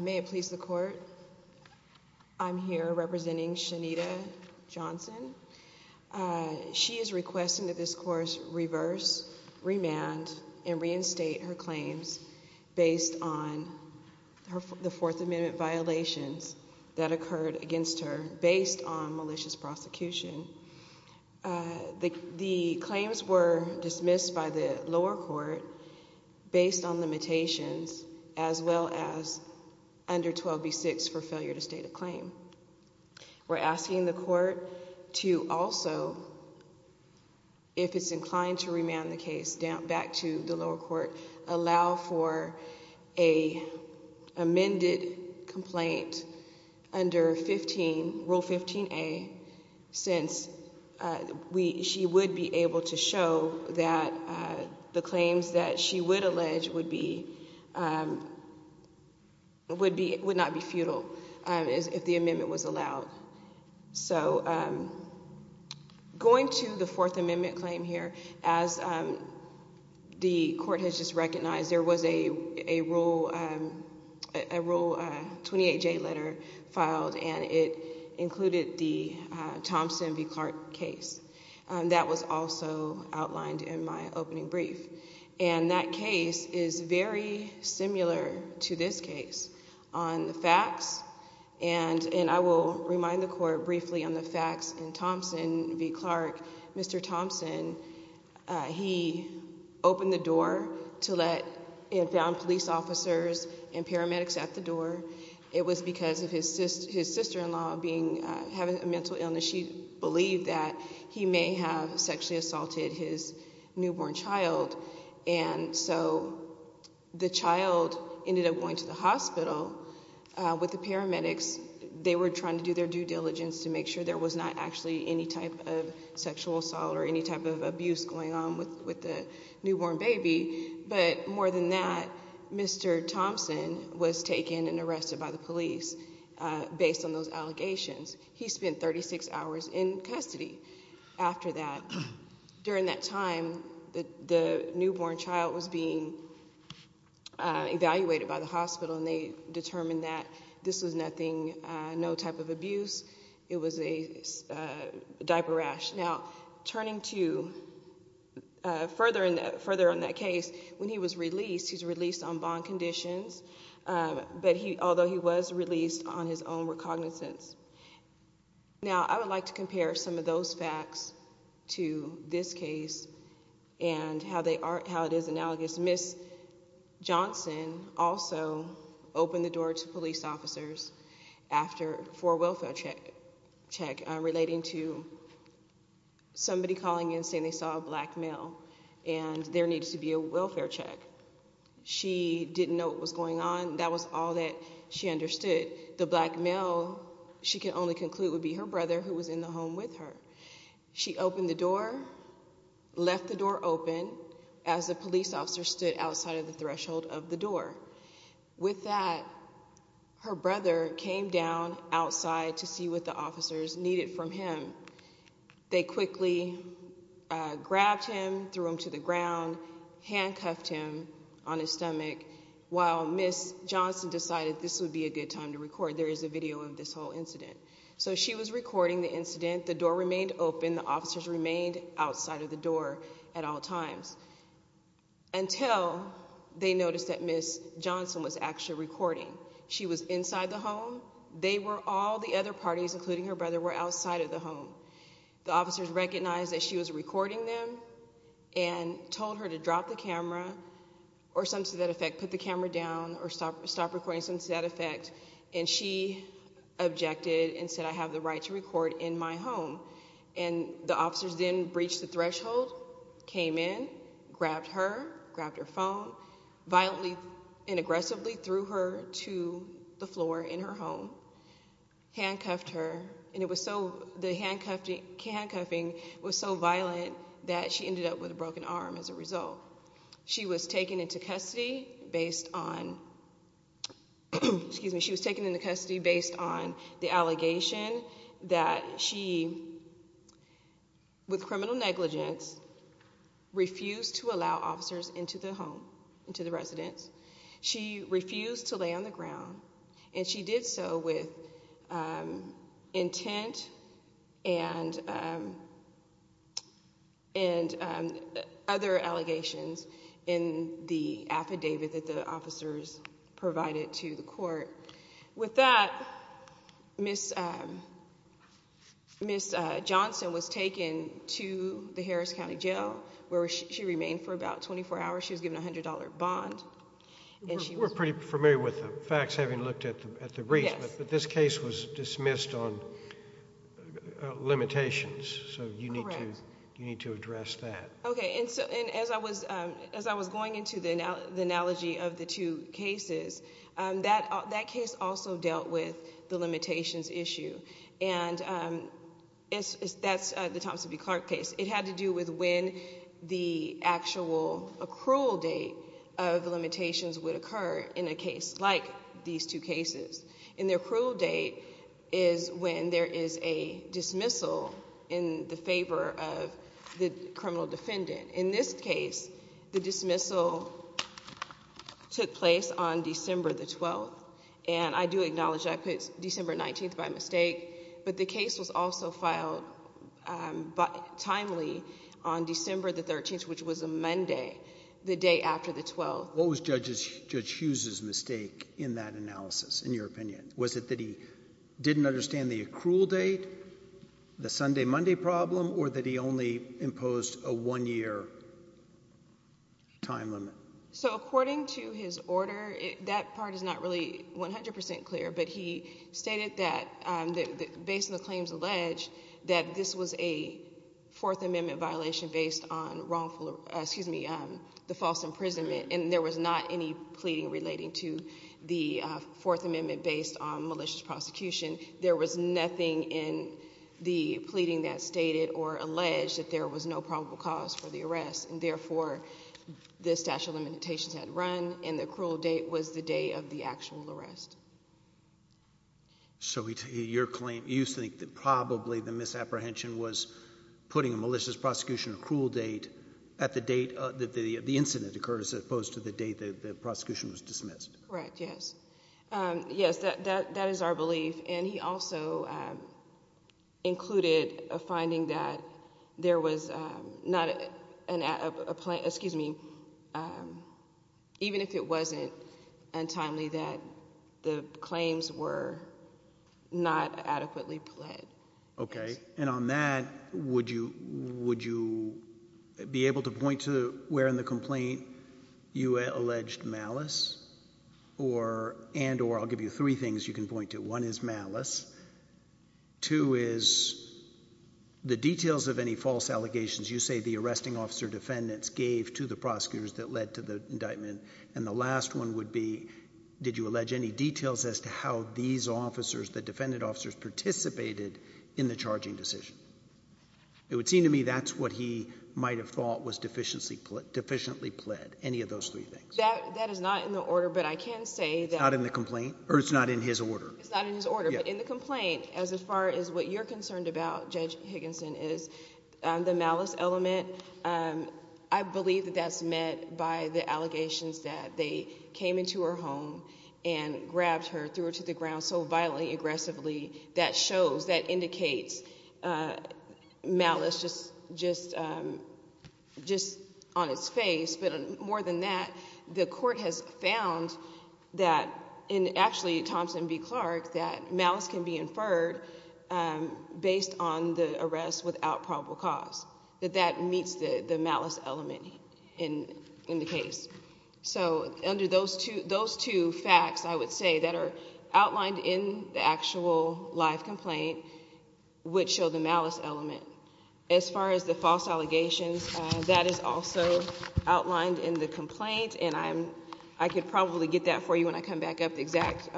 May it please the court, I'm here representing Shanita Johnson. She is requesting that this course reverse, remand, and reinstate her claims based on the Fourth Amendment violations that occurred against her based on malicious prosecution. The claims were dismissed by the lower court based on under 12b6 for failure to state a claim. We're asking the court to also, if it's inclined to remand the case, back to the lower court, allow for a amended complaint under Rule 15a since she would be able to show that the would not be futile if the amendment was allowed. So going to the Fourth Amendment claim here, as the court has just recognized, there was a Rule 28j letter filed and it included the Thompson v. Clark case that was also in this case. On the facts, and I will remind the court briefly on the facts in Thompson v. Clark, Mr. Thompson, he opened the door to let inbound police officers and paramedics at the door. It was because of his sister-in-law having a mental illness. She believed that he may have sexually assaulted his newborn child, and so the child ended up going to the hospital with the paramedics. They were trying to do their due diligence to make sure there was not actually any type of sexual assault or any type of abuse going on with the newborn baby, but more than that, Mr. Thompson was taken and arrested by the police based on those allegations. He spent 36 hours in custody after that during that time that the newborn child was being evaluated by the hospital and they determined that this was nothing, no type of abuse. It was a diaper rash. Now turning to further on that case, when he was released, he's released on bond conditions, but although he was released on his own cognizance. Now I would like to compare some of those facts to this case and how it is analogous. Ms. Johnson also opened the door to police officers for a welfare check relating to somebody calling in saying they saw a black male and there needs to be a welfare check. She didn't know what was going on, but she understood the black male, she could only conclude, would be her brother who was in the home with her. She opened the door, left the door open, as the police officer stood outside of the threshold of the door. With that, her brother came down outside to see what the officers needed from him. They quickly grabbed him, threw him to the ground, handcuffed him on his stomach, while Ms. Johnson decided this would be a good time for the police to come in and do their due diligence to make sure there was no type of sexual assault or any type of abuse going on with the newborn baby, but more than that, Mr. Thompson was taken and arrested by the police based on those allegations. Now turning to further on that case, when he was released on bond conditions. Ms. Johnson also opened the door to police officers for a welfare check relating to somebody calling in saying they saw a black male and there needs to be a welfare check. She didn't know what was going on. She opened the door, left the door open, as the police officers were taking the time to record. There is a video of this whole incident. So she was recording the incident, the door remained open, the officers remained outside of the door at all times until they noticed that Ms. Johnson was actually recording. She was inside the home. They were all the other parties, including her brother, were outside of the home. The officers recognized that she was recording them and told her to drop the camera or some to that effect, put the camera down or stop recording some to that effect, and she objected and said, I have the right to record in my home. And the officers then breached the threshold, came in, grabbed her, grabbed her phone, violently and aggressively threw her to the floor in her home, handcuffed her, and it was so, the handcuffing was so violent that she ended up with a broken arm as a result. She was taken into custody based on, excuse me, she was taken into custody based on the allegation that she, with criminal negligence, refused to allow officers into the home, into the residence. She refused to lay on the ground, and she did so with intent and other allegations in the affidavit that the officers provided to the court. With that, Ms. Johnson was taken to the Harris County Jail, where she remained for about 24 hours. She was given a $100 bond. We're pretty familiar with the facts, having looked at the briefs, but this case was dismissed on limitations, so you need to address that. Okay, and as I was going into the analogy of the two cases, that case also dealt with the limitations issue, and that's the Thompson v. Clark case. It had to do with when the actual accrual date of the limitations would occur in a case like these two cases. And the accrual date is when there is a dismissal in the favor of the criminal defendant. In this case, the dismissal took place on December the 12th, and I do acknowledge that I put December 19th by mistake, but the case was also filed timely on December the 13th, which was a Monday, the day after the 12th. What was Judge Hughes' mistake in that analysis, in your opinion? Was it that he didn't understand the accrual date, the Sunday-Monday problem, or that he only imposed a one-year time limit? So according to his order, that part is not really 100% clear, but he stated that based on the claims alleged, that this was a Fourth Amendment violation based on wrongful, excuse me, the false imprisonment. And there was not any pleading relating to the Fourth Amendment based on malicious prosecution. There was nothing in the pleading that stated or alleged that there was no probable cause for the arrest. And therefore, the statute of limitations had run, and the accrual date was the day of the actual arrest. So your claim – you think that probably the misapprehension was putting a malicious prosecution accrual date at the date that the incident occurred as opposed to the date that the prosecution was dismissed? Correct, yes. Yes, that is our belief. And he also included a finding that there was not a – excuse me, even if it wasn't untimely, that the claims were not adequately pled. Okay. And on that, would you be able to point to where in the complaint you alleged malice or – and or? I'll give you three things you can point to. One is malice. Two is the details of any false allegations you say the arresting officer defendants gave to the prosecutors that led to the indictment. And the last one would be did you allege any details as to how these officers, the defendant officers, participated in the charging decision? It would seem to me that's what he might have thought was deficiently pled, any of those three things. That is not in the order, but I can say that – It's not in the complaint? Or it's not in his order? It's not in his order. But in the complaint, as far as what you're concerned about, Judge Higginson, is the malice element. I believe that that's met by the allegations that they came into her home and grabbed her, threw her to the ground so violently, aggressively, that shows, that indicates malice just on its face. But more than that, the court has found that in actually Thompson v. Clark that malice can be inferred based on the arrest without probable cause, that that meets the malice element in the case. So under those two facts, I would say, that are outlined in the actual live complaint would show the malice element. As far as the false allegations, that is also outlined in the complaint, and I could probably get that for you when I come back up, the exact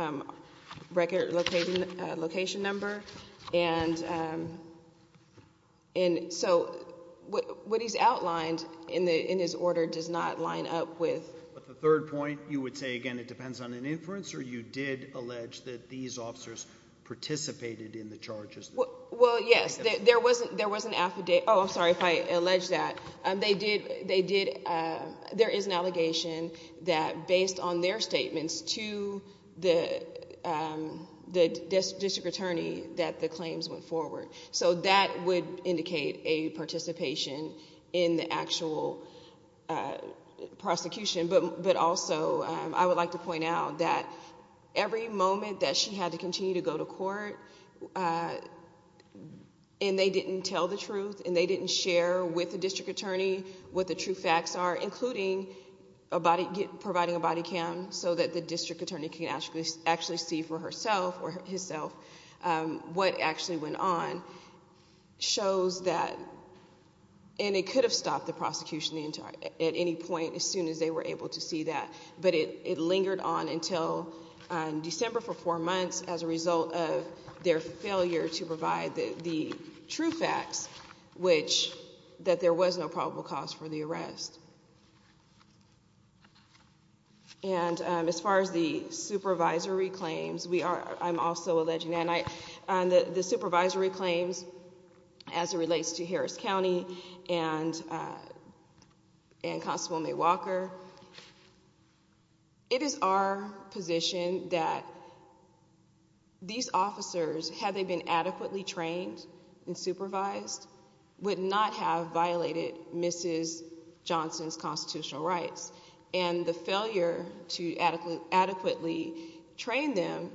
record location number. And so what he's outlined in his order does not line up with – But the third point, you would say, again, it depends on an inference, or you did allege that these officers participated in the charges? Well, yes. There was an affidavit – oh, I'm sorry if I alleged that. They did – there is an allegation that based on their statements to the district attorney that the claims went forward. So that would indicate a participation in the actual prosecution. But also I would like to point out that every moment that she had to continue to go to court, and they didn't tell the truth, and they didn't share with the district attorney what the true facts are, including providing a body cam so that the district attorney can actually see for herself or himself what actually went on, shows that – and it could have stopped the prosecution at any point as soon as they were able to see that. But it lingered on until December for four months as a result of their failure to provide the true facts, which – that there was no probable cause for the arrest. And as far as the supervisory claims, we are – I'm also alleging that. And the supervisory claims as it relates to Harris County and Constable May Walker, it is our position that these officers, had they been adequately trained and supervised, would not have violated Mrs. Johnson's constitutional rights. And the failure to adequately train them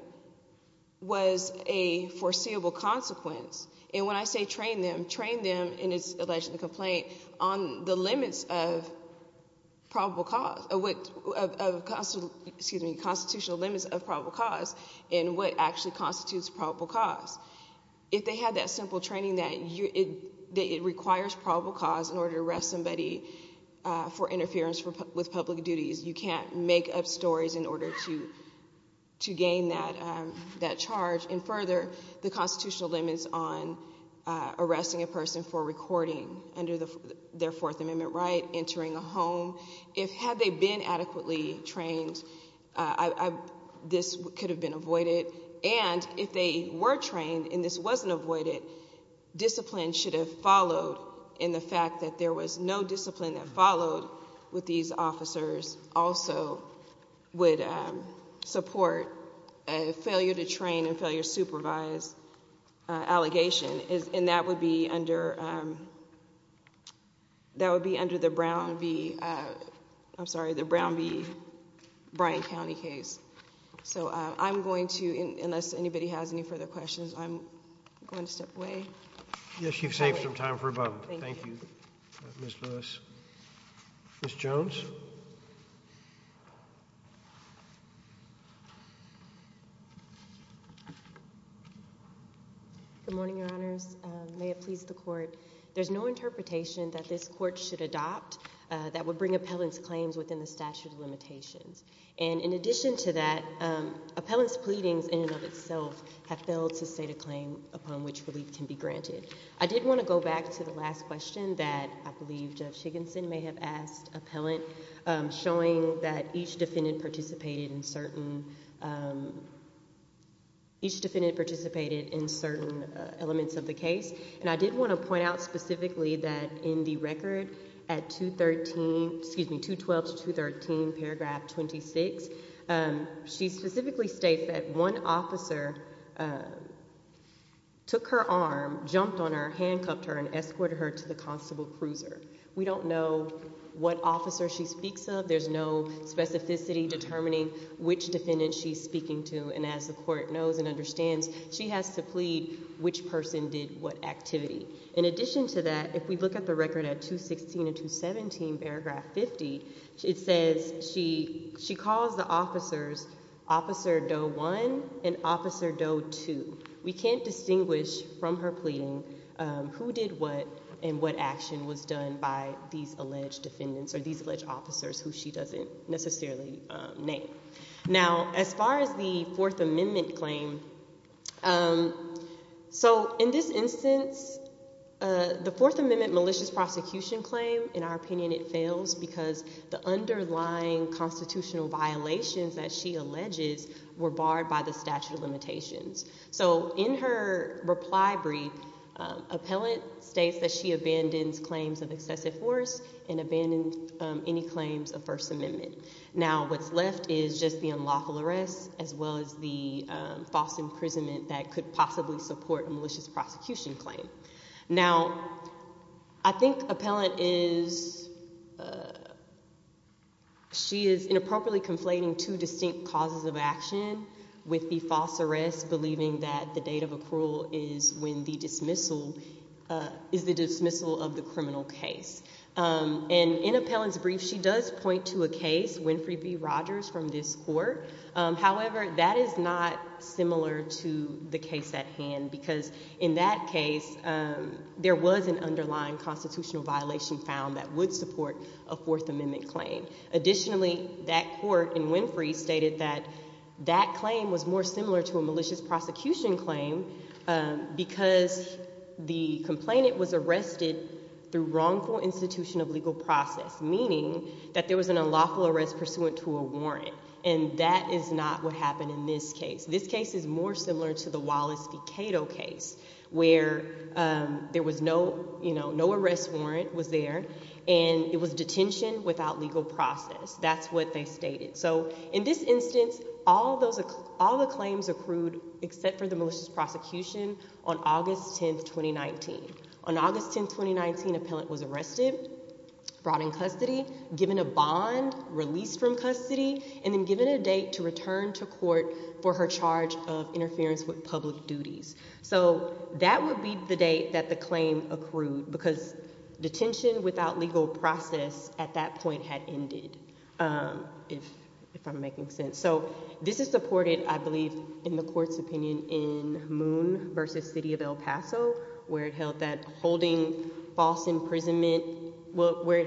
was a foreseeable consequence. And when I say train them, train them, and it's alleged in the complaint, on the limits of probable cause – of constitutional limits of probable cause and what actually constitutes probable cause. If they had that simple training that it requires probable cause in order to arrest somebody for interference with public duties, you can't make up stories in order to gain that charge. And further, the constitutional limits on arresting a person for recording under their Fourth Amendment right, entering a home. If – had they been adequately trained, this could have been avoided. And if they were trained and this wasn't avoided, discipline should have followed. And the fact that there was no discipline that followed with these officers also would support a failure to train and failure to supervise allegation. And that would be under – that would be under the Brown v. – I'm sorry, the Brown v. Bryan County case. So I'm going to – unless anybody has any further questions, I'm going to step away. Yes, you've saved some time for a moment. Thank you, Ms. Lewis. Ms. Jones? Good morning, Your Honors. May it please the Court. There's no interpretation that this Court should adopt that would bring appellant's claims within the statute of limitations. And in addition to that, appellant's pleadings in and of itself have failed to state a claim upon which relief can be granted. I did want to go back to the last question that I believe Jeff Shigginson may have asked appellant, showing that each defendant participated in certain – each defendant participated in certain elements of the case. And I did want to point out specifically that in the record at 213 – excuse me, 212 to 213, paragraph 26, she specifically states that one officer took her arm, jumped on her, handcuffed her, and escorted her to the constable cruiser. We don't know what officer she speaks of. There's no specificity determining which defendant she's speaking to. And as the Court knows and understands, she has to plead which person did what activity. In addition to that, if we look at the record at 216 and 217, paragraph 50, it says she calls the officers Officer Doe 1 and Officer Doe 2. We can't distinguish from her pleading who did what and what action was done by these alleged defendants or these alleged officers who she doesn't necessarily name. Now, as far as the Fourth Amendment claim, so in this instance, the Fourth Amendment malicious prosecution claim, in our opinion it fails because the underlying constitutional violations that she alleges were barred by the statute of limitations. So in her reply brief, appellant states that she abandons claims of excessive force and abandons any claims of First Amendment. Now, what's left is just the unlawful arrest as well as the false imprisonment that could possibly support a malicious prosecution claim. Now, I think appellant is – she is inappropriately conflating two distinct causes of action with the false arrest, believing that the date of accrual is when the dismissal – is the dismissal of the criminal case. And in appellant's brief, she does point to a case, Winfrey v. Rogers from this court. However, that is not similar to the case at hand because in that case there was an underlying constitutional violation found that would support a Fourth Amendment claim. Additionally, that court in Winfrey stated that that claim was more similar to a malicious prosecution claim because the complainant was arrested through wrongful institution of legal process, meaning that there was an unlawful arrest pursuant to a warrant. And that is not what happened in this case. This case is more similar to the Wallace v. Cato case where there was no – no arrest warrant was there, and it was detention without legal process. That's what they stated. So in this instance, all those – all the claims accrued except for the malicious prosecution on August 10, 2019. On August 10, 2019, appellant was arrested, brought in custody, given a bond, released from custody, and then given a date to return to court for her charge of interference with public duties. So that would be the date that the claim accrued because detention without legal process at that point had ended, if I'm making sense. So this is supported, I believe, in the court's opinion in Moon v. City of El Paso where it held that holding false imprisonment – well,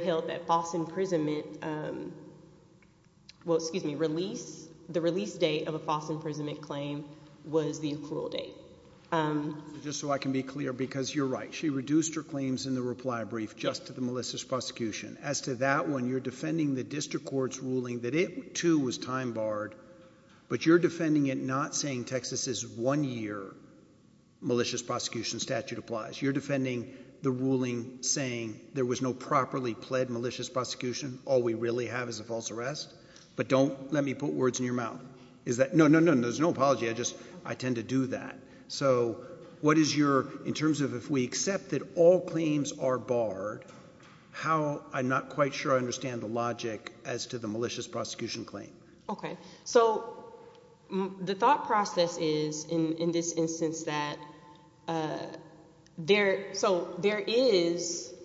excuse me, release – the release date of a false imprisonment claim was the accrual date. Just so I can be clear, because you're right, she reduced her claims in the reply brief just to the malicious prosecution. As to that one, you're defending the district court's ruling that it, too, was time barred, but you're defending it not saying Texas's one-year malicious prosecution statute applies. You're defending the ruling saying there was no properly pled malicious prosecution. All we really have is a false arrest, but don't let me put words in your mouth. Is that – no, no, no, there's no apology. I just – I tend to do that. So what is your – in terms of if we accept that all claims are barred, how – I'm not quite sure I understand the logic as to the malicious prosecution claim. Okay, so the thought process is in this instance that there – so there is –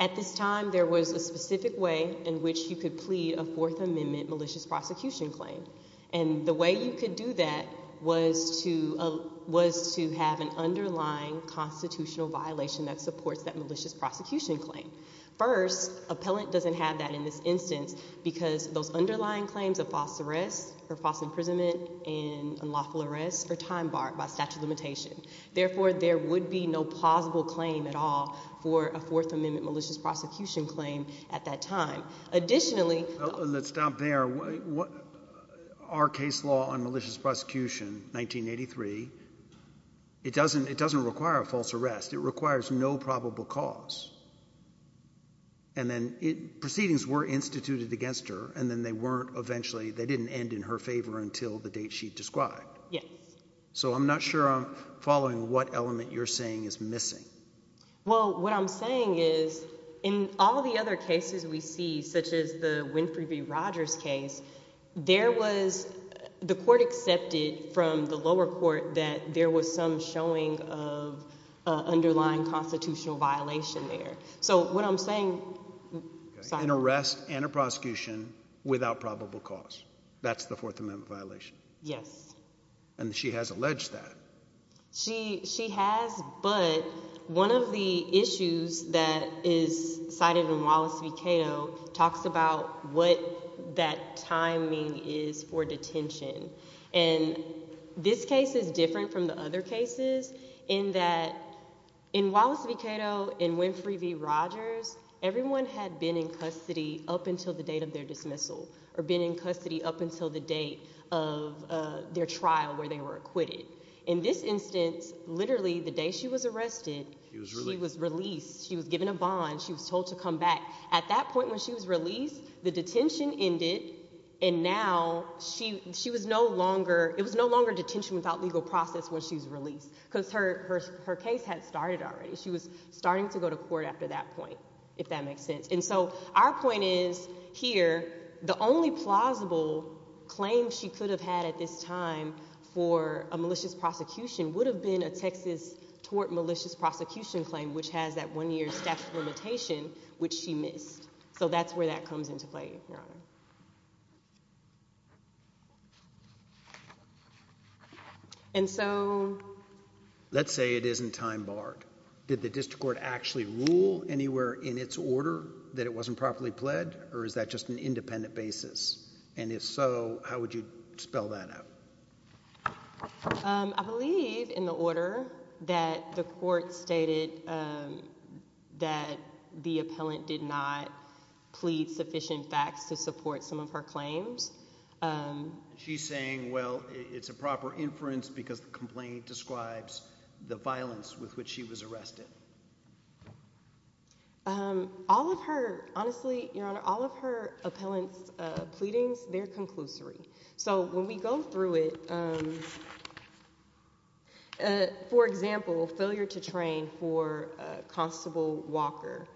at this time there was a specific way in which you could plead a Fourth Amendment malicious prosecution claim, and the way you could do that was to have an underlying constitutional violation that supports that malicious prosecution claim. First, appellant doesn't have that in this instance because those underlying claims of false arrest or false imprisonment and unlawful arrest are time barred by statute of limitation. Therefore, there would be no plausible claim at all for a Fourth Amendment malicious prosecution claim at that time. Additionally – Let's stop there. Our case law on malicious prosecution, 1983, it doesn't require a false arrest. It requires no probable cause, and then proceedings were instituted against her, and then they weren't eventually – they didn't end in her favor until the date she described. Yes. So I'm not sure I'm following what element you're saying is missing. Well, what I'm saying is in all the other cases we see, such as the Winfrey v. Rogers case, there was – the court accepted from the lower court that there was some showing of underlying constitutional violation there. So what I'm saying – An arrest and a prosecution without probable cause. That's the Fourth Amendment violation. Yes. And she has alleged that. She has, but one of the issues that is cited in Wallace v. Cato talks about what that timing is for detention. And this case is different from the other cases in that in Wallace v. Cato and Winfrey v. Rogers, everyone had been in custody up until the date of their dismissal or been in custody up until the date of their trial where they were acquitted. In this instance, literally the day she was arrested, she was released. She was given a bond. She was told to come back. At that point when she was released, the detention ended, and now she was no longer – it was no longer detention without legal process when she was released because her case had started already. She was starting to go to court after that point, if that makes sense. And so our point is here the only plausible claim she could have had at this time for a malicious prosecution would have been a Texas tort malicious prosecution claim, which has that one-year statute limitation, which she missed. So that's where that comes into play, Your Honor. And so – Let's say it isn't time-barred. Did the district court actually rule anywhere in its order that it wasn't properly pled, or is that just an independent basis? And if so, how would you spell that out? I believe in the order that the court stated that the appellant did not plead sufficient facts to support some of her claims. She's saying, well, it's a proper inference because the complaint describes the violence with which she was arrested. All of her – honestly, Your Honor, all of her appellant's pleadings, they're conclusory. So when we go through it – for example, failure to train for Constable Walker.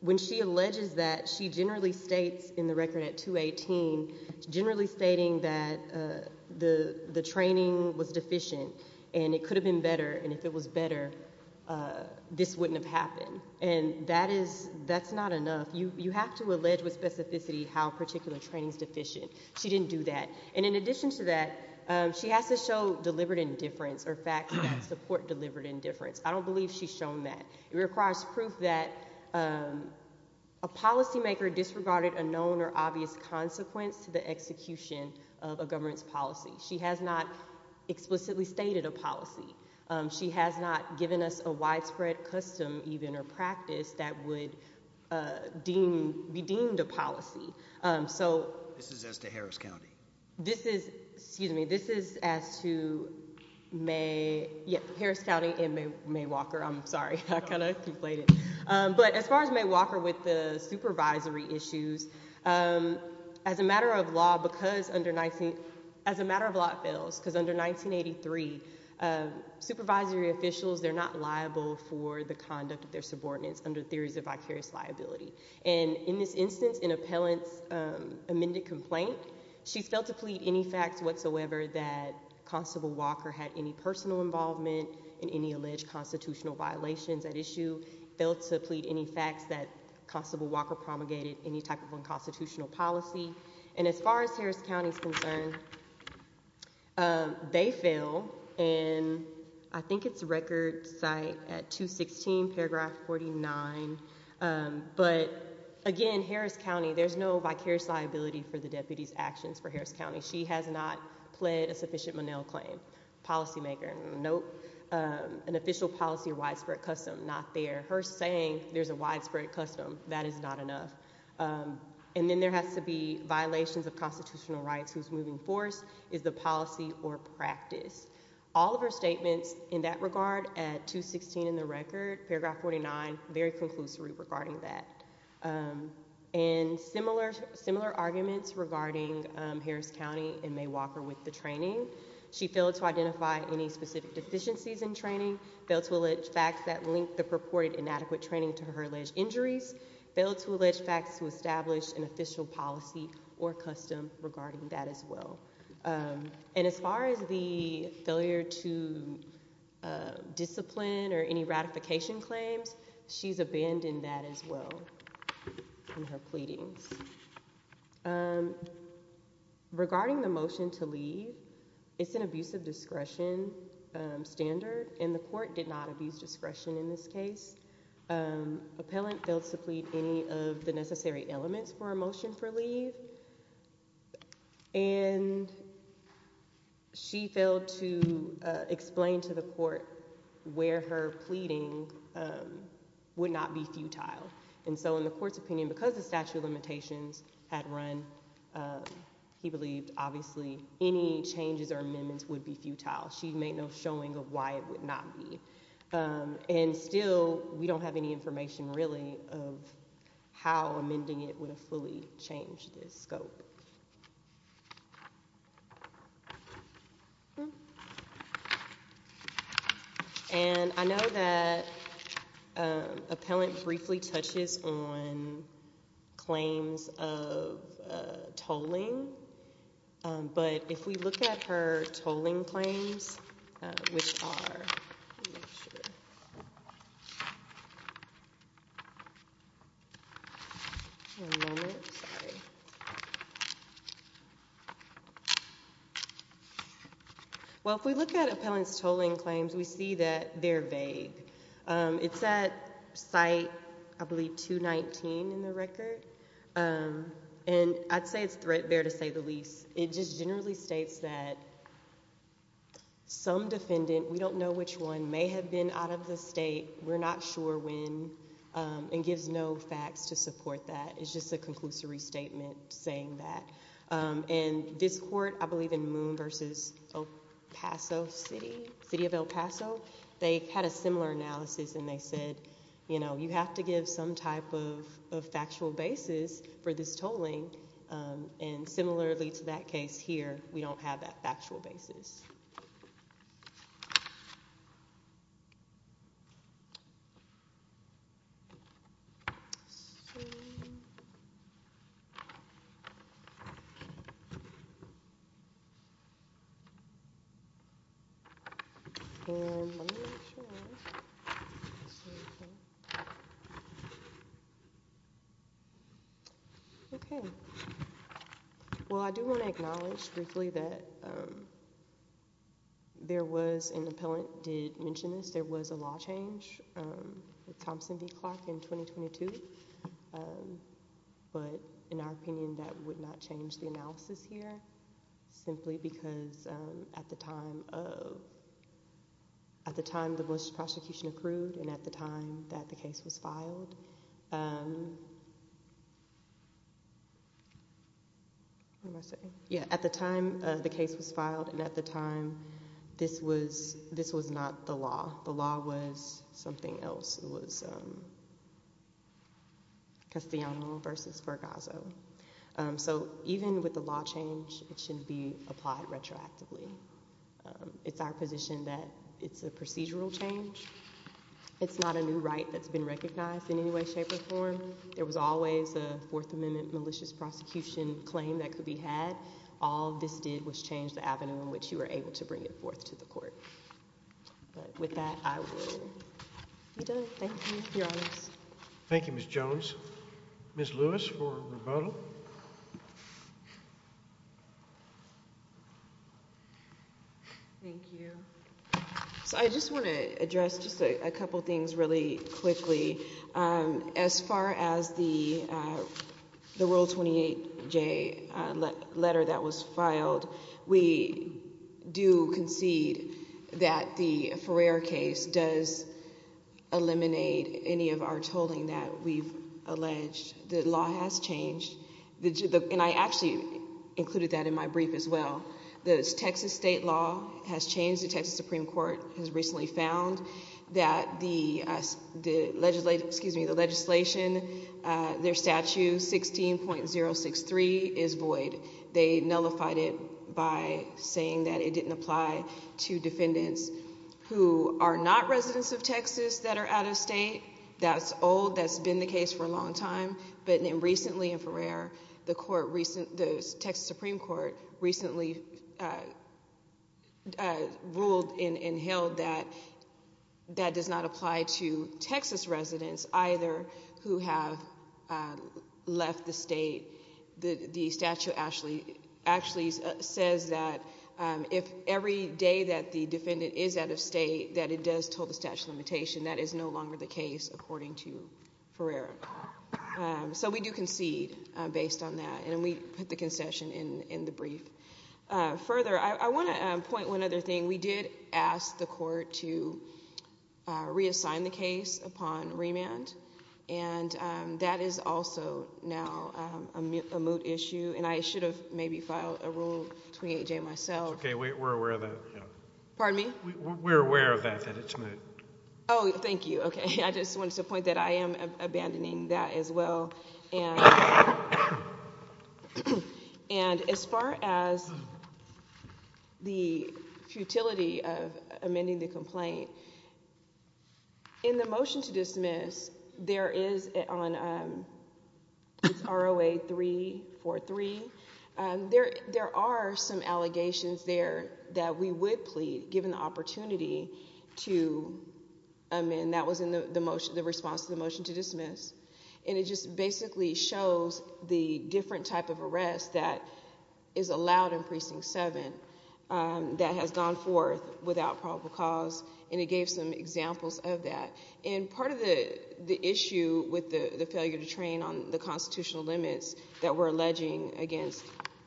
When she alleges that, she generally states in the record at 218, generally stating that the training was deficient and it could have been better, and if it was better, this wouldn't have happened. And that is – that's not enough. You have to allege with specificity how particular training is deficient. She didn't do that. And in addition to that, she has to show deliberate indifference or facts that support deliberate indifference. I don't believe she's shown that. It requires proof that a policymaker disregarded a known or obvious consequence to the execution of a government's policy. She has not explicitly stated a policy. She has not given us a widespread custom, even, or practice that would be deemed a policy. So – This is as to Harris County. This is – excuse me. This is as to Harris County and May Walker. I'm sorry. I kind of conflated. But as far as May Walker with the supervisory issues, as a matter of law, because under – as a matter of law, it fails. Because under 1983, supervisory officials, they're not liable for the conduct of their subordinates under theories of vicarious liability. And in this instance, in appellant's amended complaint, she failed to plead any facts whatsoever that Constable Walker had any personal involvement in any alleged constitutional violations at issue. Failed to plead any facts that Constable Walker promulgated any type of unconstitutional policy. And as far as Harris County is concerned, they fail. And I think it's record site at 216 paragraph 49. But, again, Harris County, there's no vicarious liability for the deputy's actions for Harris County. She has not pled a sufficient Monell claim. Policymaker, nope. An official policy or widespread custom, not there. Her saying there's a widespread custom, that is not enough. And then there has to be violations of constitutional rights whose moving force is the policy or practice. All of her statements in that regard at 216 in the record, paragraph 49, very conclusory regarding that. And similar arguments regarding Harris County and May Walker with the training. She failed to identify any specific deficiencies in training. Failed to allege facts that linked the purported inadequate training to her alleged injuries. Failed to allege facts to establish an official policy or custom regarding that as well. And as far as the failure to discipline or any ratification claims, she's abandoned that as well in her pleadings. Regarding the motion to leave, it's an abuse of discretion standard. And the court did not abuse discretion in this case. Appellant failed to plead any of the necessary elements for a motion for leave. And she failed to explain to the court where her pleading would not be futile. And so in the court's opinion, because the statute of limitations had run, he believed obviously any changes or amendments would be futile. She made no showing of why it would not be. And still we don't have any information really of how amending it would fully change this scope. And I know that appellant briefly touches on claims of tolling. But if we look at her tolling claims, which are. Well, if we look at appellant's tolling claims, we see that they're vague. It's at site, I believe, 219 in the record. And I'd say it's fair to say the least. It just generally states that some defendant, we don't know which one, may have been out of the state, we're not sure when, and gives no facts to support that. It's just a conclusive restatement saying that. And this court, I believe in Moon versus El Paso City, City of El Paso, they had a similar analysis and they said, you know, you have to give some type of factual basis for this tolling. And similarly to that case here, we don't have that factual basis. Well, I do want to acknowledge briefly that there was an appellant did mention this. There was a law change. Thompson v. Clark in 2022. But in our opinion, that would not change the analysis here, simply because at the time of. At the time the Bush prosecution accrued and at the time that the case was filed. Yeah, at the time the case was filed and at the time this was this was not the law. The law was something else. It was. Because the versus for Gaza. So even with the law change, it shouldn't be applied retroactively. It's our position that it's a procedural change. It's not a new right that's been recognized. In any way, shape or form, there was always a Fourth Amendment malicious prosecution claim that could be had. All this did was change the avenue in which you were able to bring it forth to the court. But with that, I will be done. Thank you. Thank you, Ms. Jones. Ms. Lewis. Thank you. So I just want to address just a couple of things really quickly. As far as the the World 28 J letter that was filed, we do concede that the Ferrer case does eliminate any of our tolling that we've alleged. The law has changed. And I actually included that in my brief as well. The Texas state law has changed. The Texas Supreme Court has recently found that the legislation, their statute, 16.063, is void. They nullified it by saying that it didn't apply to defendants who are not residents of Texas that are out of state. That's old. That's been the case for a long time. But recently in Ferrer, the Texas Supreme Court recently ruled and held that that does not apply to Texas residents either who have left the state. The statute actually says that if every day that the defendant is out of state, that it does toll the statute of limitation. That is no longer the case according to Ferrer. So we do concede based on that. And we put the concession in the brief. Further, I want to point one other thing. We did ask the court to reassign the case upon remand. And that is also now a moot issue. And I should have maybe filed a rule between AJ and myself. It's okay. We're aware of that. Pardon me? We're aware of that, that it's moot. Oh, thank you. Okay. I just wanted to point that I am abandoning that as well. And as far as the futility of amending the complaint, in the motion to dismiss, there is on ROA 343, there are some allegations there that we would plead given the opportunity to amend. That was in the response to the motion to dismiss. And it just basically shows the different type of arrest that is allowed in Precinct 7 that has gone forth without probable cause. And it gave some examples of that. And part of the issue with the failure to train on the constitutional limits that we're alleging against,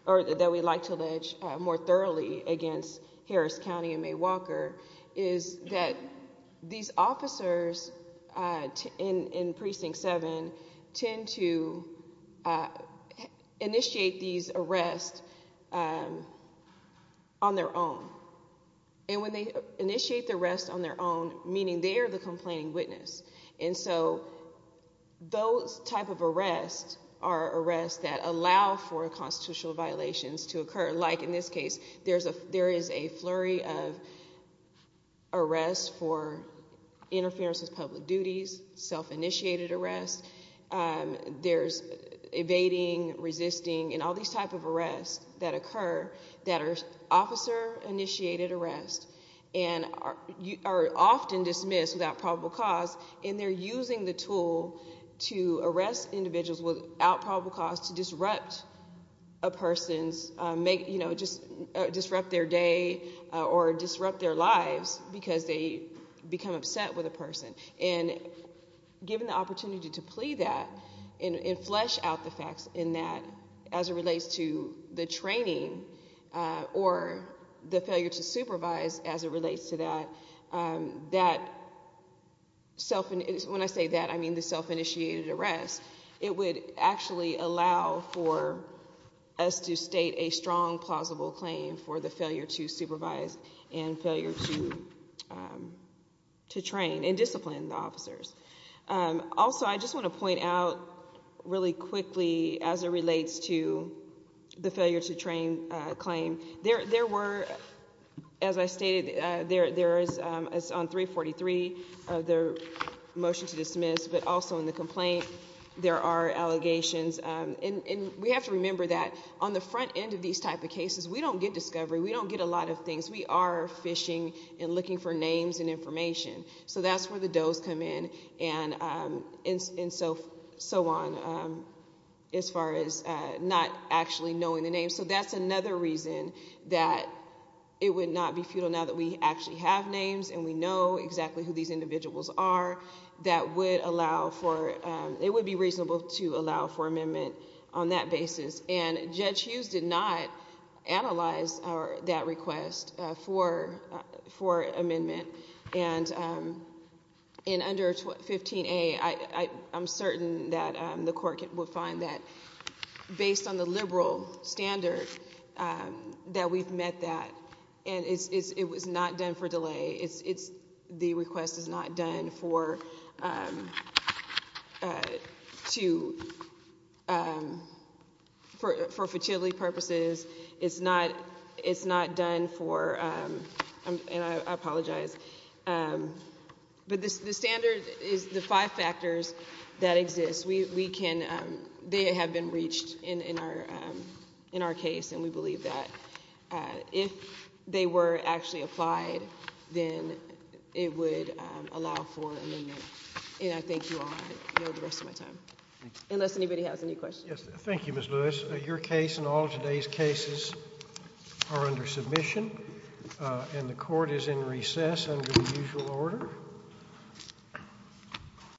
or that we'd like to allege more thoroughly against Harris County and May Walker, is that these officers in Precinct 7 tend to initiate these arrests on their own. And when they initiate the arrest on their own, meaning they're the complaining witness. And so those type of arrests are arrests that allow for constitutional violations to occur. Like in this case, there is a flurry of arrests for interference with public duties, self-initiated arrests. There's evading, resisting, and all these type of arrests that occur that are officer-initiated arrests and are often dismissed without probable cause. And they're using the tool to arrest individuals without probable cause to disrupt a person's, disrupt their day or disrupt their lives because they become upset with a person. And given the opportunity to plea that and flesh out the facts in that as it relates to the training or the failure to supervise as it relates to that, that self-initiated, when I say that, I mean the self-initiated arrest, it would actually allow for us to state a strong, plausible claim for the failure to supervise and failure to train and discipline the officers. Also, I just want to point out really quickly as it relates to the failure to train claim, there were, as I stated, there is on 343, the motion to dismiss, but also in the complaint, there are allegations. And we have to remember that on the front end of these type of cases, we don't get discovery. We don't get a lot of things. We are fishing and looking for names and information. So that's where the does come in and so on as far as not actually knowing the names. So that's another reason that it would not be futile now that we actually have names and we know exactly who these individuals are that would allow for, it would be reasonable to allow for amendment on that basis. And Judge Hughes did not analyze that request for amendment. And in under 15A, I'm certain that the court will find that based on the liberal standard that we've met that, and it was not done for delay. The request is not done for futility purposes. It's not done for, and I apologize, but the standard is the five factors that exist. They have been reached in our case, and we believe that if they were actually applied, then it would allow for amendment. And I thank you all. I yield the rest of my time. Unless anybody has any questions. Thank you, Ms. Lewis. Your case and all of today's cases are under submission, and the court is in recess under the usual order.